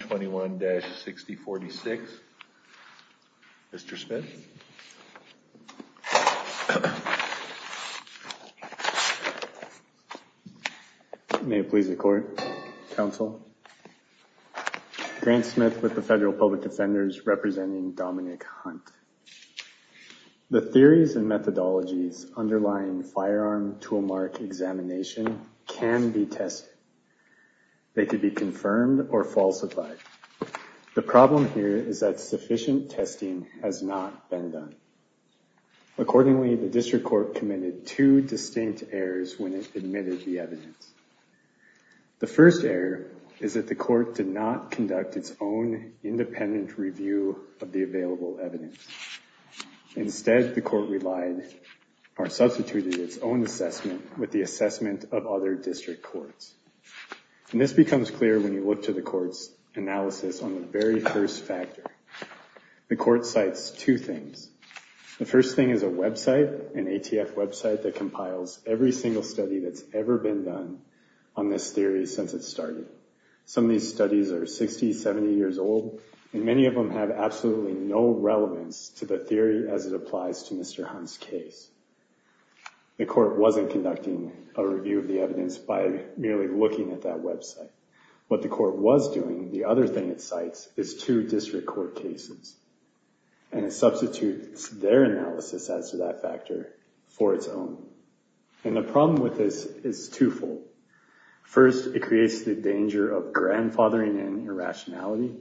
21-6046. Mr. Smith. May it please the court, counsel. Grant Smith with the Federal Public Defenders representing Dominic Hunt. The theories and methodologies underlying firearm toolmark examination can be tested. They could be confirmed or falsified. The problem here is that sufficient testing has not been done. Accordingly, the district court committed two distinct errors when it admitted the evidence. The first error is that the court did not conduct its own independent review of the available evidence. Instead, the court relied or substituted its own assessment with the assessment of other district courts. And this becomes clear when you look to the court's analysis on the very first factor. The court cites two things. The first thing is a website, an ATF website, that compiles every single study that's ever been done on this theory since it started. Some of these studies are 60, 70 years old, and many of them have absolutely no relevance to the theory as it applies to Mr. Hunt's case. The court wasn't conducting a review of the evidence by merely looking at that website. What the court was doing, the other thing it cites, is two district court cases. And it substitutes their analysis as to that factor for its own. And the problem with this is twofold. First, it creates the danger of grandfathering in irrationality.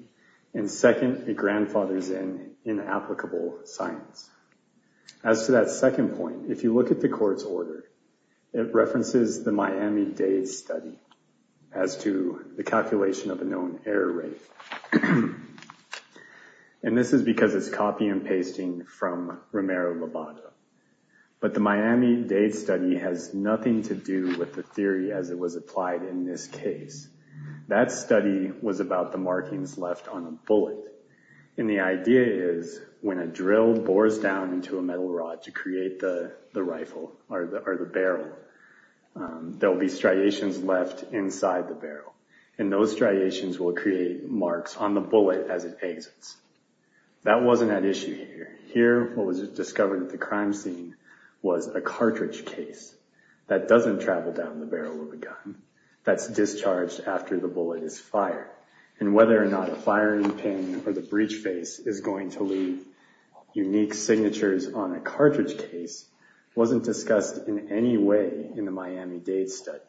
And second, it grandfathers in inapplicable science. As to that second point, if you look at the court's order, it references the Miami-Dade study as to the calculation of a known error rate. And this is because it's copy and pasting from Romero-Lobata. But the Miami-Dade study has nothing to do with the theory as it was applied in this case. That study was about the markings left on a bullet. And the idea is, when a drill bores down into a metal rod to create the rifle or the barrel, there'll be striations left inside the barrel. And those striations will create marks on the bullet as it exits. That wasn't at issue here. Here, what was discovered at the crime scene was a cartridge case that doesn't travel down the barrel of a gun. That's discharged after the bullet is fired. And whether or not a firing pin or the breech face is going to leave unique signatures on a cartridge case wasn't discussed in any way in the Miami-Dade study.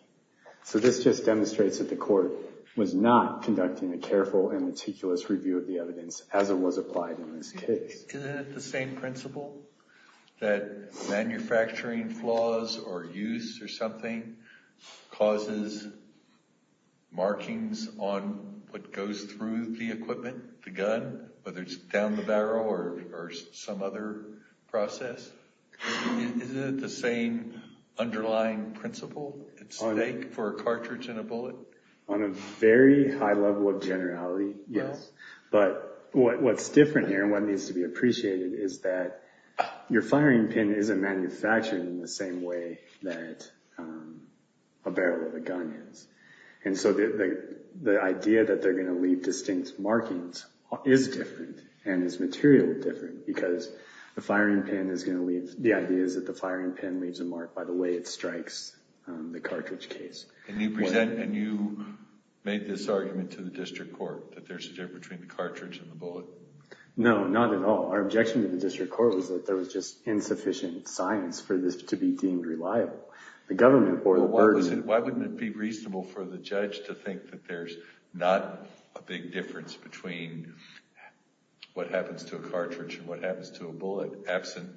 So this just demonstrates that the court was not conducting a careful and meticulous review of the evidence as it was applied in this case. Isn't it the same principle that manufacturing flaws or use or something causes markings on what goes through the equipment, the gun, whether it's down the barrel or some other process? Isn't it the same underlying principle? It's the same for a cartridge and a bullet? On a very high level of generality, yes. But what's different here and what needs to be appreciated is that your firing pin isn't manufactured in the same way that a barrel of a gun is. And so the idea that they're going to leave distinct markings is different and is material different because the firing pin is going to leave, the idea is that the firing pin leaves a mark by the way it strikes the cartridge case. And you present, and you made this argument to the district court that there's a difference between the cartridge and the bullet? No, not at all. Our objection to the district court was that there was just insufficient science for this to be deemed reliable. The government court... Why wouldn't it be reasonable for the judge to think that there's not a big difference between what happens to a cartridge and what happens to a bullet absent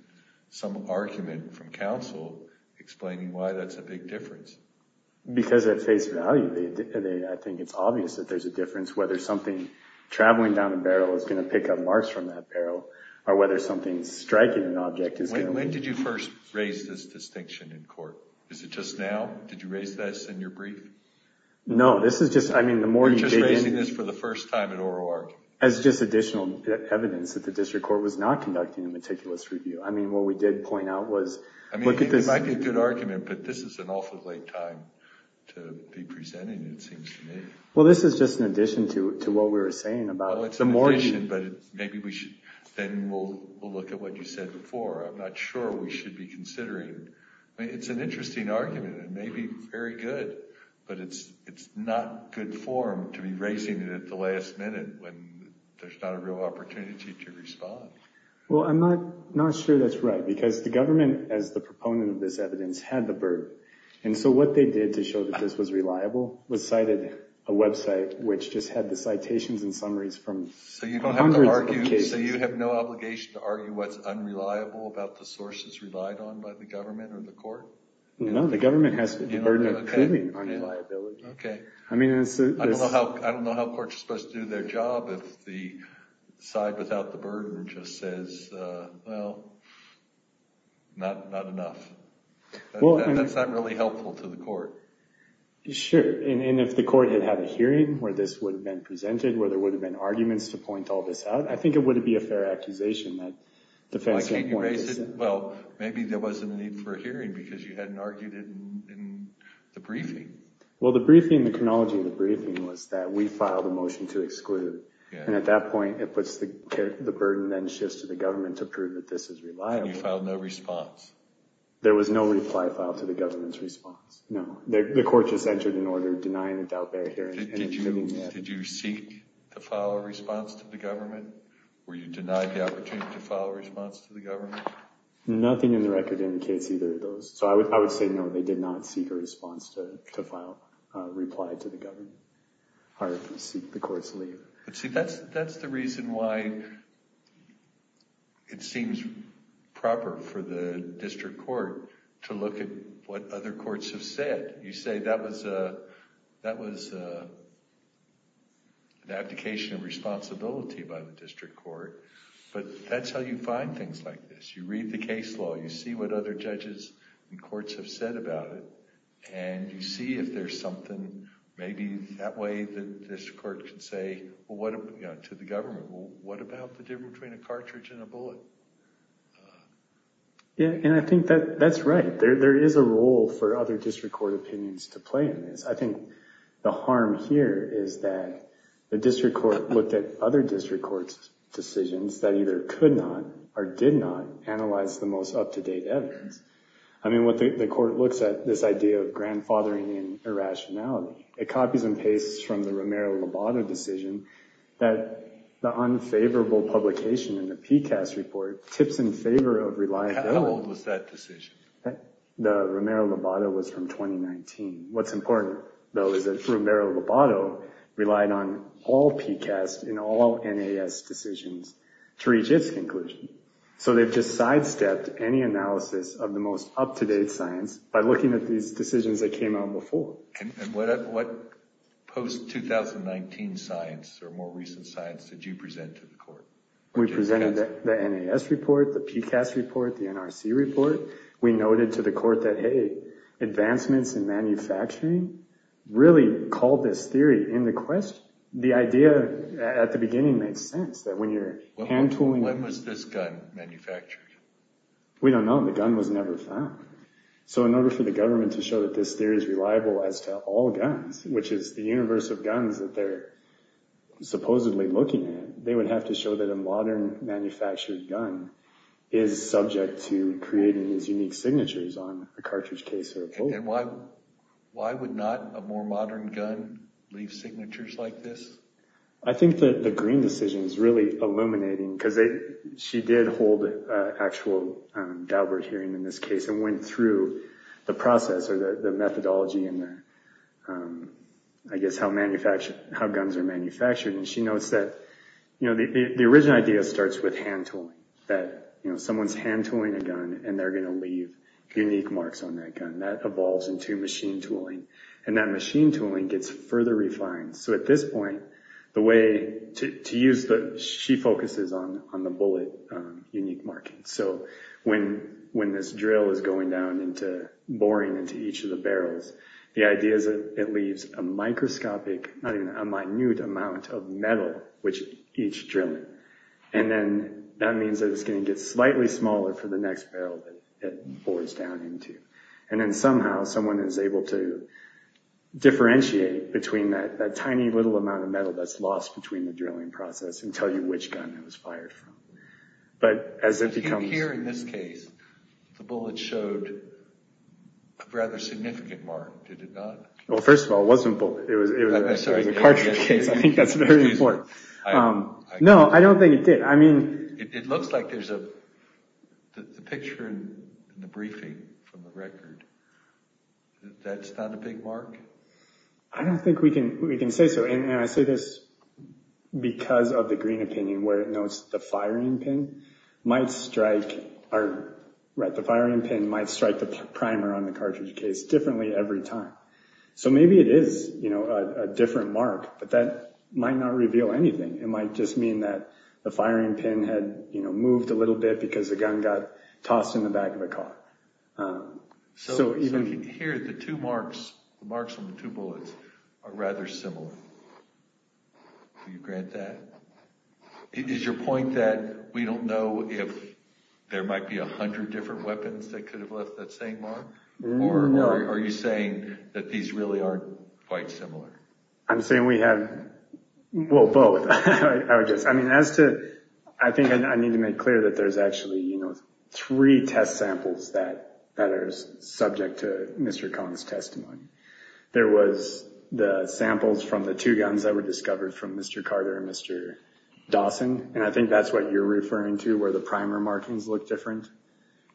some argument from counsel explaining why that's a big difference? Because at face value, I think it's obvious that there's a difference whether something traveling down a barrel is going to pick up marks from that barrel or whether something striking an object is going to... When did you first raise this distinction in court? Is it just now? Did you raise this in your brief? No, this is just, I mean, the more you begin... You're just raising this for the first time in oral argument? As just additional evidence that the district court was not conducting a meticulous review. I mean, what we did point out was... I mean, it might be a good argument, but this is an awfully late time to be presenting, it seems to me. Well, this is just an addition to what we were saying about the mortgage... Well, it's an addition, but maybe we should... Then we'll look at what you said before. I'm not sure we should be considering... I mean, it's an interesting argument. It may be very good, but it's not good form to be raising it at the last minute when there's not a real opportunity to respond. Well, I'm not sure that's right, because the government, as the proponent of this evidence, had the burden. And so what they did to show that this was reliable was cited a website which just had the citations and summaries from hundreds of cases. So you have no obligation to argue what's unreliable about the sources relied on by the government or the court? No, the government has the burden of proving unreliability. Okay. I mean, it's... I don't know how courts are supposed to do their job if the side without the burden just says, well, not enough. Well... That's not really helpful to the court. Sure. And if the court had had a hearing where this would have been presented, where there would have been arguments to point all this out, I think it would be a fair accusation that defense... Why can't you raise it? Well, maybe there wasn't a need for a hearing because you hadn't argued it in the briefing. Well, the briefing, the chronology of the briefing was that we filed a motion to exclude. And at that point, it puts the burden then shifts to the government to prove that this is reliable. And you filed no response? There was no reply filed to the government's response. No, the court just entered an order denying a doubt-based hearing. Did you seek to file a response to the government? Were you denied the opportunity to file a response to the government? Nothing in the record indicates either of those. So I would say, no, they did not seek a response to file a reply to the government or seek the court's leave. See, that's the reason why it seems proper for the district court to look at what other courts have said. You say that was an abdication of responsibility by the district court, but that's how you find things like this. You read the case law. You see what other judges and courts have said about it. And you see if there's something maybe that way that this court can say to the government, well, what about the difference between a cartridge and a bullet? Yeah, and I think that that's right. There is a role for other district court opinions to play in this. I think the harm here is that the district court looked at other district court's decisions that either could not or did not analyze the most up-to-date evidence. I mean, what the court looks at this idea of grandfathering and irrationality. It copies and pastes from the Romero-Lobato decision that the unfavorable publication in the PCAST report tips in favor of relying on... How old was that decision? The Romero-Lobato was from 2019. What's important, though, is that Romero-Lobato relied on all PCAST and all NAS decisions to reach its conclusion. So they've just sidestepped any analysis of the most up-to-date science by looking at these decisions that came out before. And what post-2019 science or more recent science did you present to the court? We presented the NAS report, the PCAST report, the NRC report. We noted to the court that, hey, advancements in manufacturing really called this theory into question. The idea at the beginning made sense that when you're hand-tooling... When was this gun manufactured? We don't know. The gun was never found. So in order for the government to show that this theory is reliable as to all guns, which is the universe of guns that they're supposedly looking at, they would have to show that a modern manufactured gun is subject to creating these unique signatures on a cartridge case or a bolt. And why would not a more modern gun leave signatures like this? I think that the Green decision is really illuminating because she did hold an actual Daubert hearing in this case and went through the process or the methodology and, I guess, how guns are manufactured. And she notes that the original idea starts with hand-tooling, that someone's hand-tooling a gun and they're going to leave unique marks on that gun. That evolves into machine-tooling, and that machine-tooling gets further refined. So at this point, the way to use the... She focuses on the bullet unique markings. So when this drill is going down into boring into each of the barrels, the idea is that it leaves a microscopic, not even a minute amount of metal, which each drilling. And then that means that it's going to get slightly smaller for the next barrel that it pours down into. And then somehow someone is able to differentiate between that tiny little amount of metal that's lost between the drilling process and tell you which gun it was fired from. But as it becomes... Here in this case, the bullet showed a rather significant mark, did it not? Well, first of all, it wasn't bullet. It was a cartridge case. I think that's very important. No, I don't think it did. I mean... It looks like there's a... The picture in the briefing from the record, that's not a big mark? I don't think we can say so. And I say this because of the green opinion where it notes the firing pin might strike... The firing pin might strike the primer on the cartridge case differently every time. So maybe it is a different mark, but that might not reveal anything. It might just mean that the firing pin had moved a little bit because the gun got tossed in the back of the car. So here, the two marks on the two bullets are rather similar. Do you grant that? Is your point that we don't know if there might be a hundred different weapons that could have left that same mark? Or are you saying that these really aren't quite similar? I'm saying we have... Well, both, I guess. I mean, as to... I think I need to make clear that there's actually, you know, three test samples that are subject to Mr. Kong's testimony. There was the samples from the two guns that were discovered from Mr. Carter and Mr. Dawson. And I think that's what you're referring to, where the primer markings look different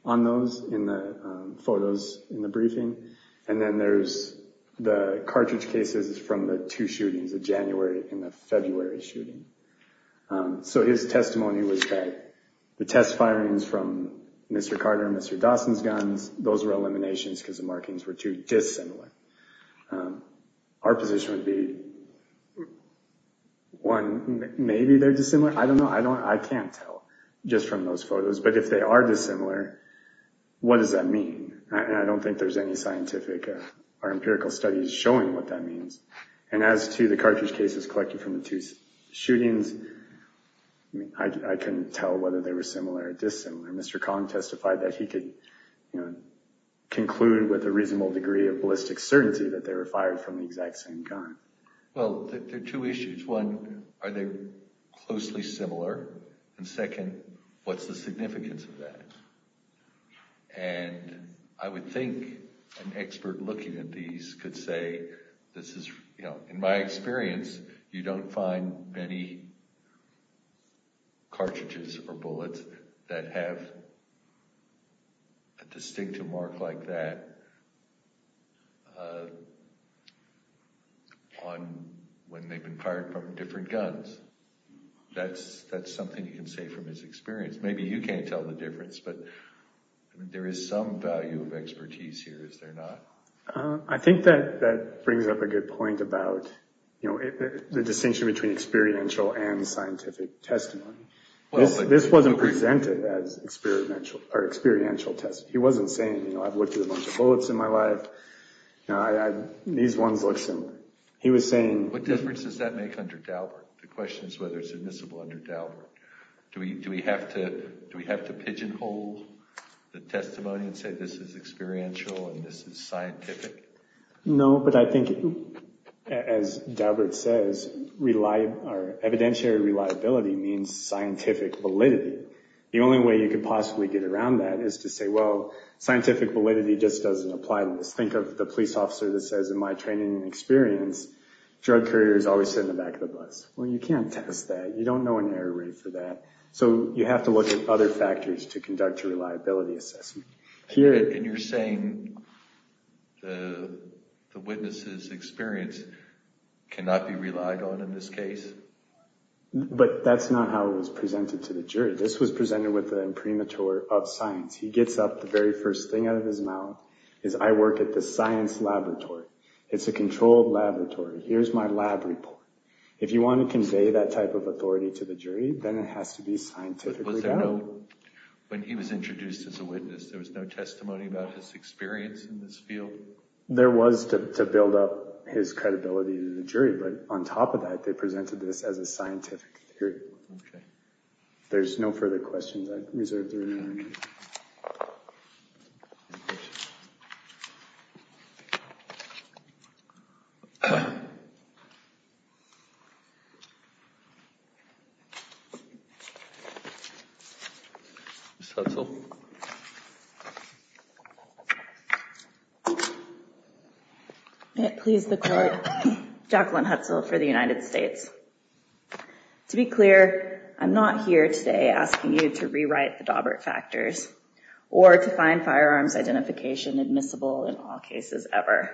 on those in the photos in the briefing. And then there's the cartridge cases from the two shootings, the January and the February shooting. So his testimony was that the test firings from Mr. Carter and Mr. Dawson's guns, those were eliminations because the markings were too dissimilar. Our position would be, one, maybe they're dissimilar. I don't know. I don't... I can't tell just from those photos. But if they are dissimilar, what does that mean? I don't think there's any scientific or empirical studies showing what that means. And as to the cartridge cases collected from the two shootings, I couldn't tell whether they were similar or dissimilar. Mr. Kong testified that he could conclude with a reasonable degree of ballistic certainty that they were fired from the exact same gun. Well, there are two issues. One, are they closely similar? And second, what's the significance of that? And I would think an expert looking at these could say, this is, you know, in my experience, you don't find many cartridges or bullets that have a distinctive mark like that on... when they've been fired from different guns. That's something you can say from his experience. Maybe you can't tell the difference, but there is some value of expertise here, is there not? I think that brings up a good point about the distinction between experiential and scientific testimony. This wasn't presented as experiential testimony. He wasn't saying, you know, I've looked at a bunch of bullets in my life. These ones look similar. He was saying... What difference does that make under Dauberg? The question is whether it's admissible under Dauberg. Do we have to pigeonhole the testimony and say this is experiential and this is scientific? No, but I think, as Dauberg says, evidentiary reliability means scientific validity. The only way you could possibly get around that is to say, well, scientific validity just doesn't apply to this. Think of the police officer that says, in my training and experience, drug couriers always sit in the back of the bus. Well, you can't test that. You don't know an error rate for that. So you have to look at other factors to conduct a reliability assessment. And you're saying the witness's experience cannot be relied on in this case? But that's not how it was presented to the jury. This was presented with the imprimatur of science. He gets up, the very first thing out of his mouth is, I work at the science laboratory. It's a controlled laboratory. Here's my lab report. If you want to convey that type of authority to the jury, then it has to be scientifically valid. Was there no, when he was introduced as a witness, there was no testimony about his experience in this field? There was to build up his credibility to the jury. But on top of that, they presented this as a scientific theory. Okay. There's no further questions. I reserve the remaining. Ms. Hutzel. May it please the court, Jacqueline Hutzel for the United States. To be clear, I'm not here today asking you to rewrite the Daubert factors or to find firearms identification admissible in all cases ever.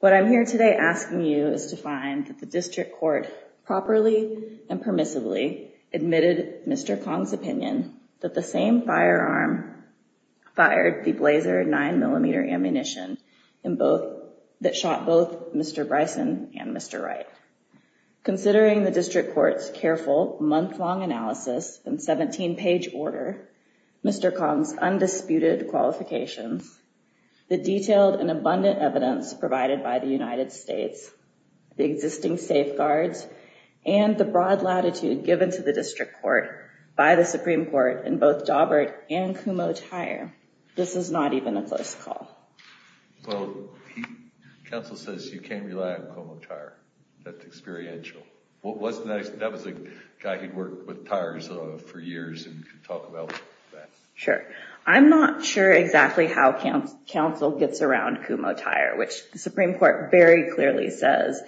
What I'm here today asking you is to find the district court properly and permissively admitted Mr. Kong's opinion that the same firearm fired the blazer nine millimeter ammunition in both that shot both Mr. Bryson and Mr. Wright. Considering the district court's careful month long analysis and 17 page order, Mr. Kong's detailed and abundant evidence provided by the United States, the existing safeguards, and the broad latitude given to the district court by the Supreme Court in both Daubert and Kumo Tire, this is not even a close call. Well, counsel says you can't rely on Kumo Tire. That's experiential. That was a guy who'd worked with tires for years and could talk about that. Sure. I'm not sure exactly how counsel gets around Kumo Tire, which the Supreme Court very clearly says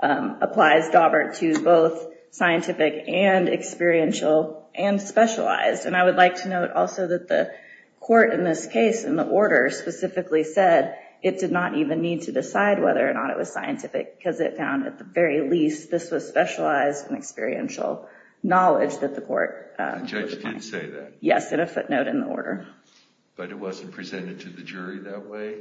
applies Daubert to both scientific and experiential and specialized. And I would like to note also that the court in this case in the order specifically said it did not even need to decide whether or not it was scientific because it found at the very least this was specialized and experiential knowledge that the court. The judge did say that. Yes, in a footnote in the order. But it wasn't presented to the jury that way?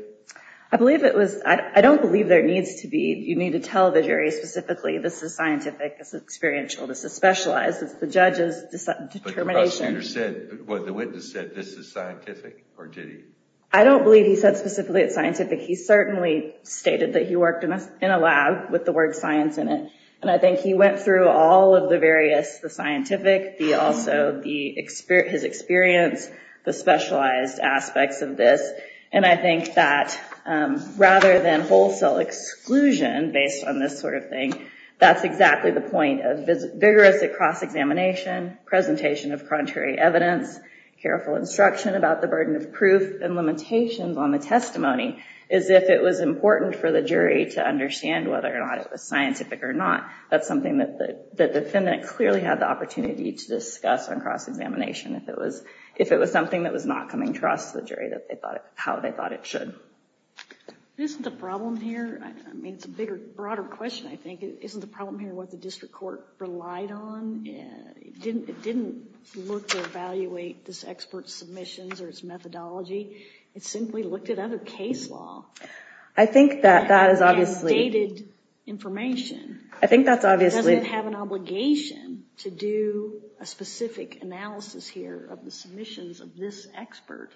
I believe it was. I don't believe there needs to be. You need to tell the jury specifically this is scientific. It's experiential. This is specialized. It's the judge's determination. But the witness said this is scientific or did he? I don't believe he said specifically it's scientific. He certainly stated that he worked in a lab with the word science in it. And I think he went through all of the various, the scientific, also his experience, the specialized aspects of this. And I think that rather than wholesale exclusion based on this sort of thing, that's exactly the point of vigorous cross-examination, presentation of contrary evidence, careful instruction about the burden of proof, and limitations on the testimony as if it was important for the jury to understand whether or not it was scientific or not. That's something that the defendant clearly had the opportunity to discuss on cross-examination. If it was something that was not coming across to the jury how they thought it should. Isn't the problem here, I mean, it's a bigger, broader question, I think. Isn't the problem here what the district court relied on? It didn't look to evaluate this expert's submissions or its methodology. It simply looked at other case law. I think that that is obviously... And dated information. I think that's obviously... Doesn't it have an obligation to do a specific analysis here of the submissions of this expert?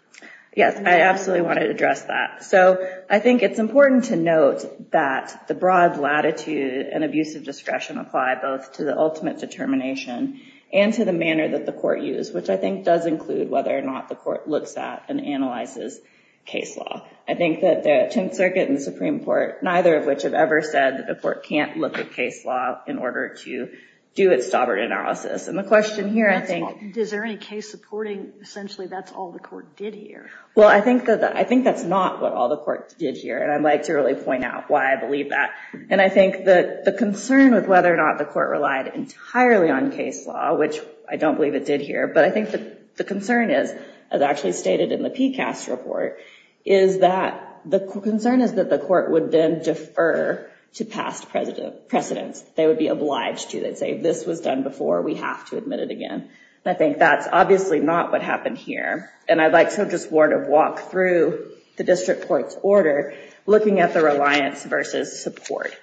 Yes, I absolutely wanted to address that. So, I think it's important to note that the broad latitude and abuse of discretion apply both to the ultimate determination and to the manner that the court used, which I think does include whether or not the court looks at and analyzes case law. I think that the Tenth Circuit and the Supreme Court, neither of which have ever said that the court can't look at case law in order to do its stobbard analysis. And the question here, I think... Is there any case supporting essentially that's all the court did here? Well, I think that's not what all the court did here. And I'd like to really point out why I believe that. And I think that the concern with whether or not the court relied entirely on case law, which I don't believe it did here, but I think that the concern is, as actually stated in the PCAST report, is that the concern is that the court would then defer to past precedents. They would be obliged to. They'd say, this was done before. We have to admit it again. And I think that's obviously not what happened here. And I'd like to just walk through the district court's order, looking at the reliance versus support.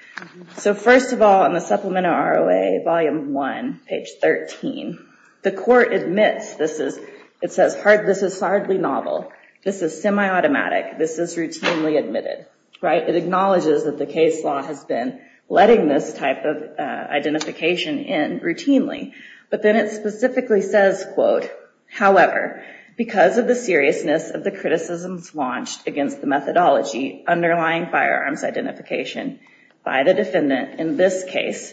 So first of all, in the Supplemental ROA Volume 1, page 13, the court admits this is hardly novel. This is semi-automatic. This is routinely admitted. It acknowledges that the case law has been letting this type of identification in routinely. But then it specifically says, quote, However, because of the seriousness of the criticisms launched against the methodology underlying firearms identification by the defendant in this case,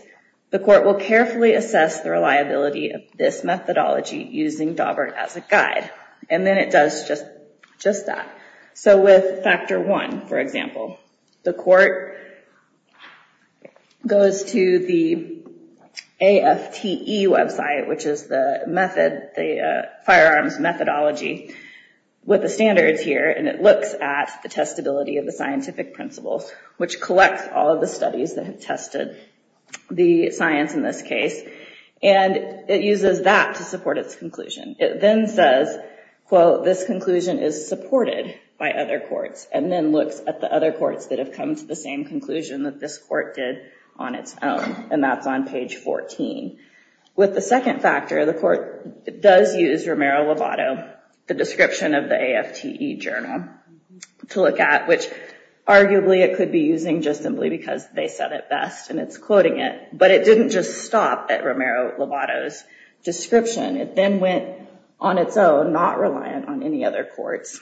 the court will carefully assess the reliability of this methodology using Daubert as a guide. And then it does just that. So with Factor 1, for example, the court goes to the AFTE website, which is the firearms methodology with the standards here. And it looks at the testability of the scientific principles, which collects all of the studies that have tested the science in this case. And it uses that to support its conclusion. It then says, quote, This conclusion is supported by other courts, and then looks at the other courts that have come to the same conclusion that this court did on its own. And that's on page 14. With the second factor, the court does use Romero-Lovato, the description of the AFTE journal, to look at, which arguably it could be using just simply because they said it best, and it's quoting it. But it didn't just stop at Romero-Lovato's description. It then went on its own, not reliant on any other courts,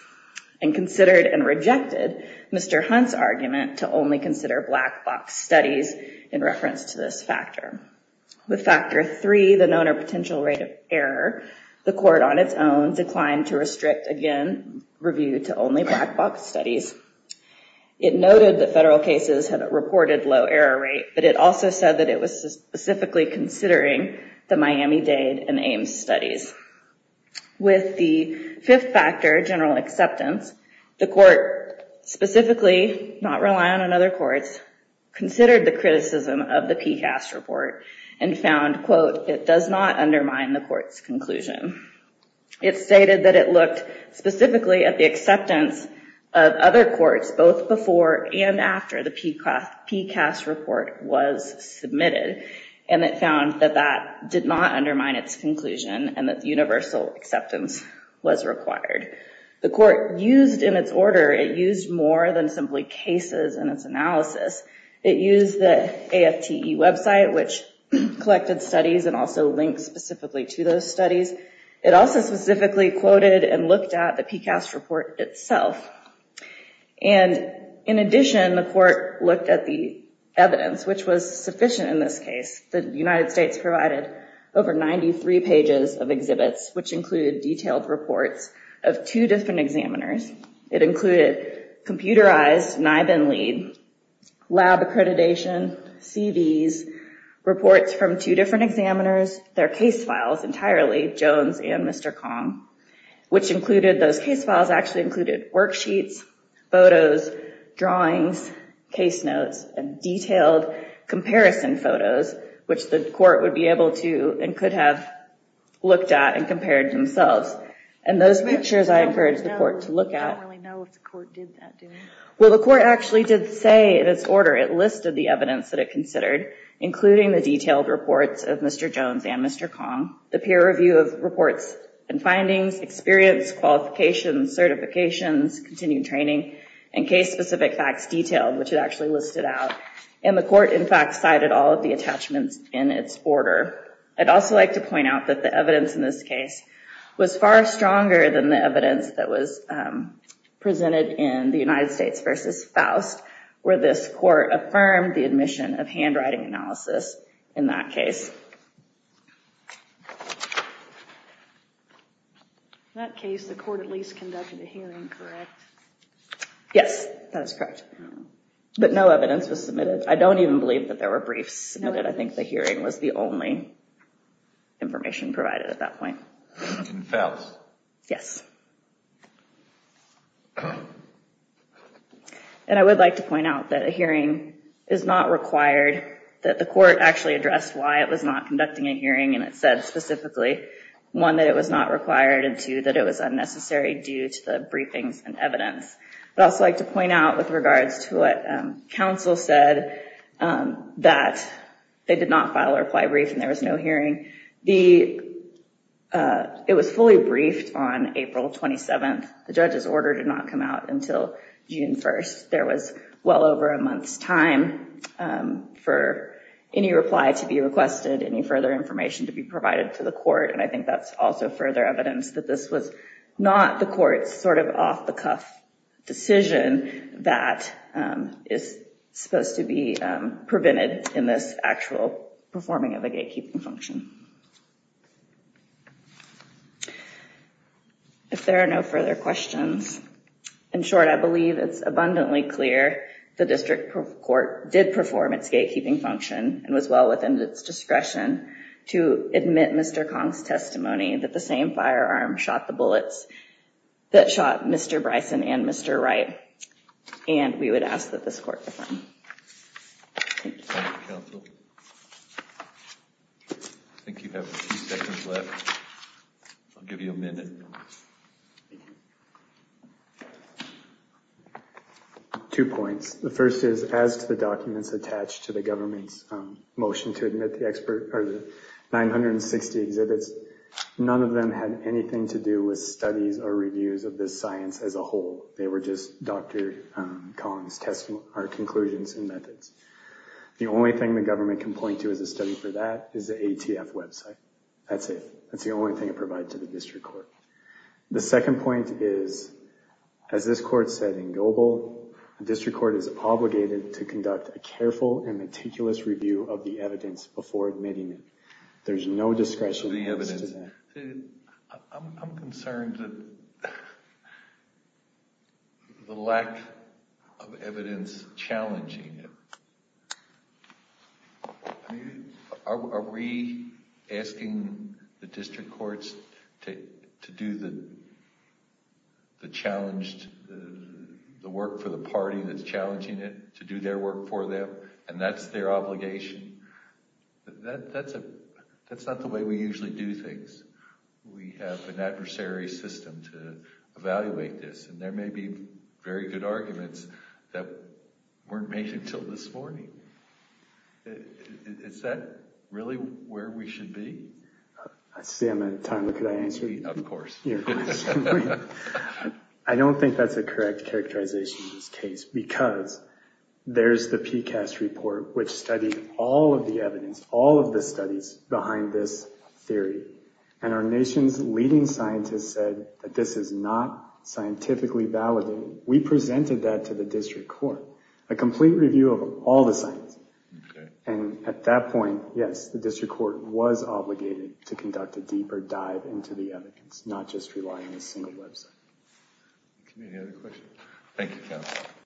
and considered and rejected Mr. Hunt's argument to only consider black box studies in reference to this factor. With Factor 3, the known or potential rate of error, the court on its own declined to restrict, again, review to only black box studies. It noted that federal cases had a reported low error rate, but it also said that it was specifically considering the Miami-Dade and Ames studies. With the fifth factor, general acceptance, the court specifically, not reliant on other courts, considered the criticism of the PCAST report and found, quote, It does not undermine the court's conclusion. It stated that it looked specifically at the acceptance of other courts, both before and after the PCAST report was submitted, and it found that that did not undermine its conclusion and that universal acceptance was required. The court used in its order, it used more than simply cases in its analysis. It used the AFTE website, which collected studies and also links specifically to those studies. It also specifically quoted and looked at the PCAST report itself. And in addition, the court looked at the evidence, which was sufficient in this case. The United States provided over 93 pages of exhibits, which included detailed reports of two different examiners. It included computerized NIBIN lead, lab accreditation, CVs, reports from two different examiners, their case files entirely, Jones and Mr. Kong, which included, those case files actually included worksheets, photos, drawings, case notes, and detailed comparison photos, which the court would be able to and could have looked at and compared themselves. And those pictures I encourage the court to look at. I don't really know if the court did that. Well, the court actually did say in its order, it listed the evidence that it considered, including the detailed reports of Mr. Jones and Mr. Kong, the peer review of reports and findings, experience, qualifications, certifications, continued training, and case specific facts detailed, which it actually listed out. And the court, in fact, cited all of the attachments in its order. I'd also like to point out that the evidence in this case was far stronger than the evidence that was presented in the United States versus Faust, where this court affirmed the admission of handwriting analysis in that case. In that case, the court at least conducted a hearing, correct? Yes, that is correct. But no evidence was submitted. I don't even believe that there were briefs submitted. I think the hearing was the only information provided at that point. In Faust? Yes. And I would like to point out that a hearing is not required, that the court actually addressed why it was not conducting a hearing and it said specifically, one, that it was not required, and two, that it was unnecessary due to the briefings and evidence. I'd also like to point out with regards to what counsel said, that they did not file a reply brief and there was no hearing. It was fully briefed on April 27th. The judge's order did not come out until June 1st. There was well over a month's time for any reply to be requested, any further information to be provided to the court, and I think that's also further evidence that this was not the court's sort of off-the-cuff decision that is supposed to be prevented in this actual performing of a gatekeeping function. If there are no further questions, in short, I believe it's abundantly clear the district court did perform its gatekeeping function and was well within its discretion to admit Mr. Kong's testimony that the same firearm shot the bullets that shot Mr. Bryson and Mr. Wright, and we would ask that this court defend. Thank you. Thank you, counsel. I think you have a few seconds left. I'll give you a minute. Two points. The first is, as to the documents attached to the government's motion to admit the 960 exhibits, none of them had anything to do with studies or reviews of this science as a whole. They were just Dr. Kong's conclusions and methods. The only thing the government can point to as a study for that is the ATF website. That's it. That's the only thing it provided to the district court. The second point is, as this court said in Goebel, the district court is obligated to conduct a careful and meticulous review of the evidence before admitting it. There's no discretion to that. I'm concerned that the lack of evidence challenging it. Are we asking the district courts to do the work for the party that's challenging it, to do their work for them, and that's their obligation? That's not the way we usually do things. We have an adversary system to evaluate this, and there may be very good arguments that weren't made until this morning. Is that really where we should be? I see I'm out of time. Could I answer your question? Of course. I don't think that's a correct characterization in this case because there's the PCAST report which studied all of the evidence, all of the studies behind this theory, and our nation's leading scientist said that this is not scientifically validated. We presented that to the district court, a complete review of all the science, and at that point, yes, the district court was obligated to conduct a deeper dive into the evidence, not just relying on a single website. Any other questions? Thank you, counsel.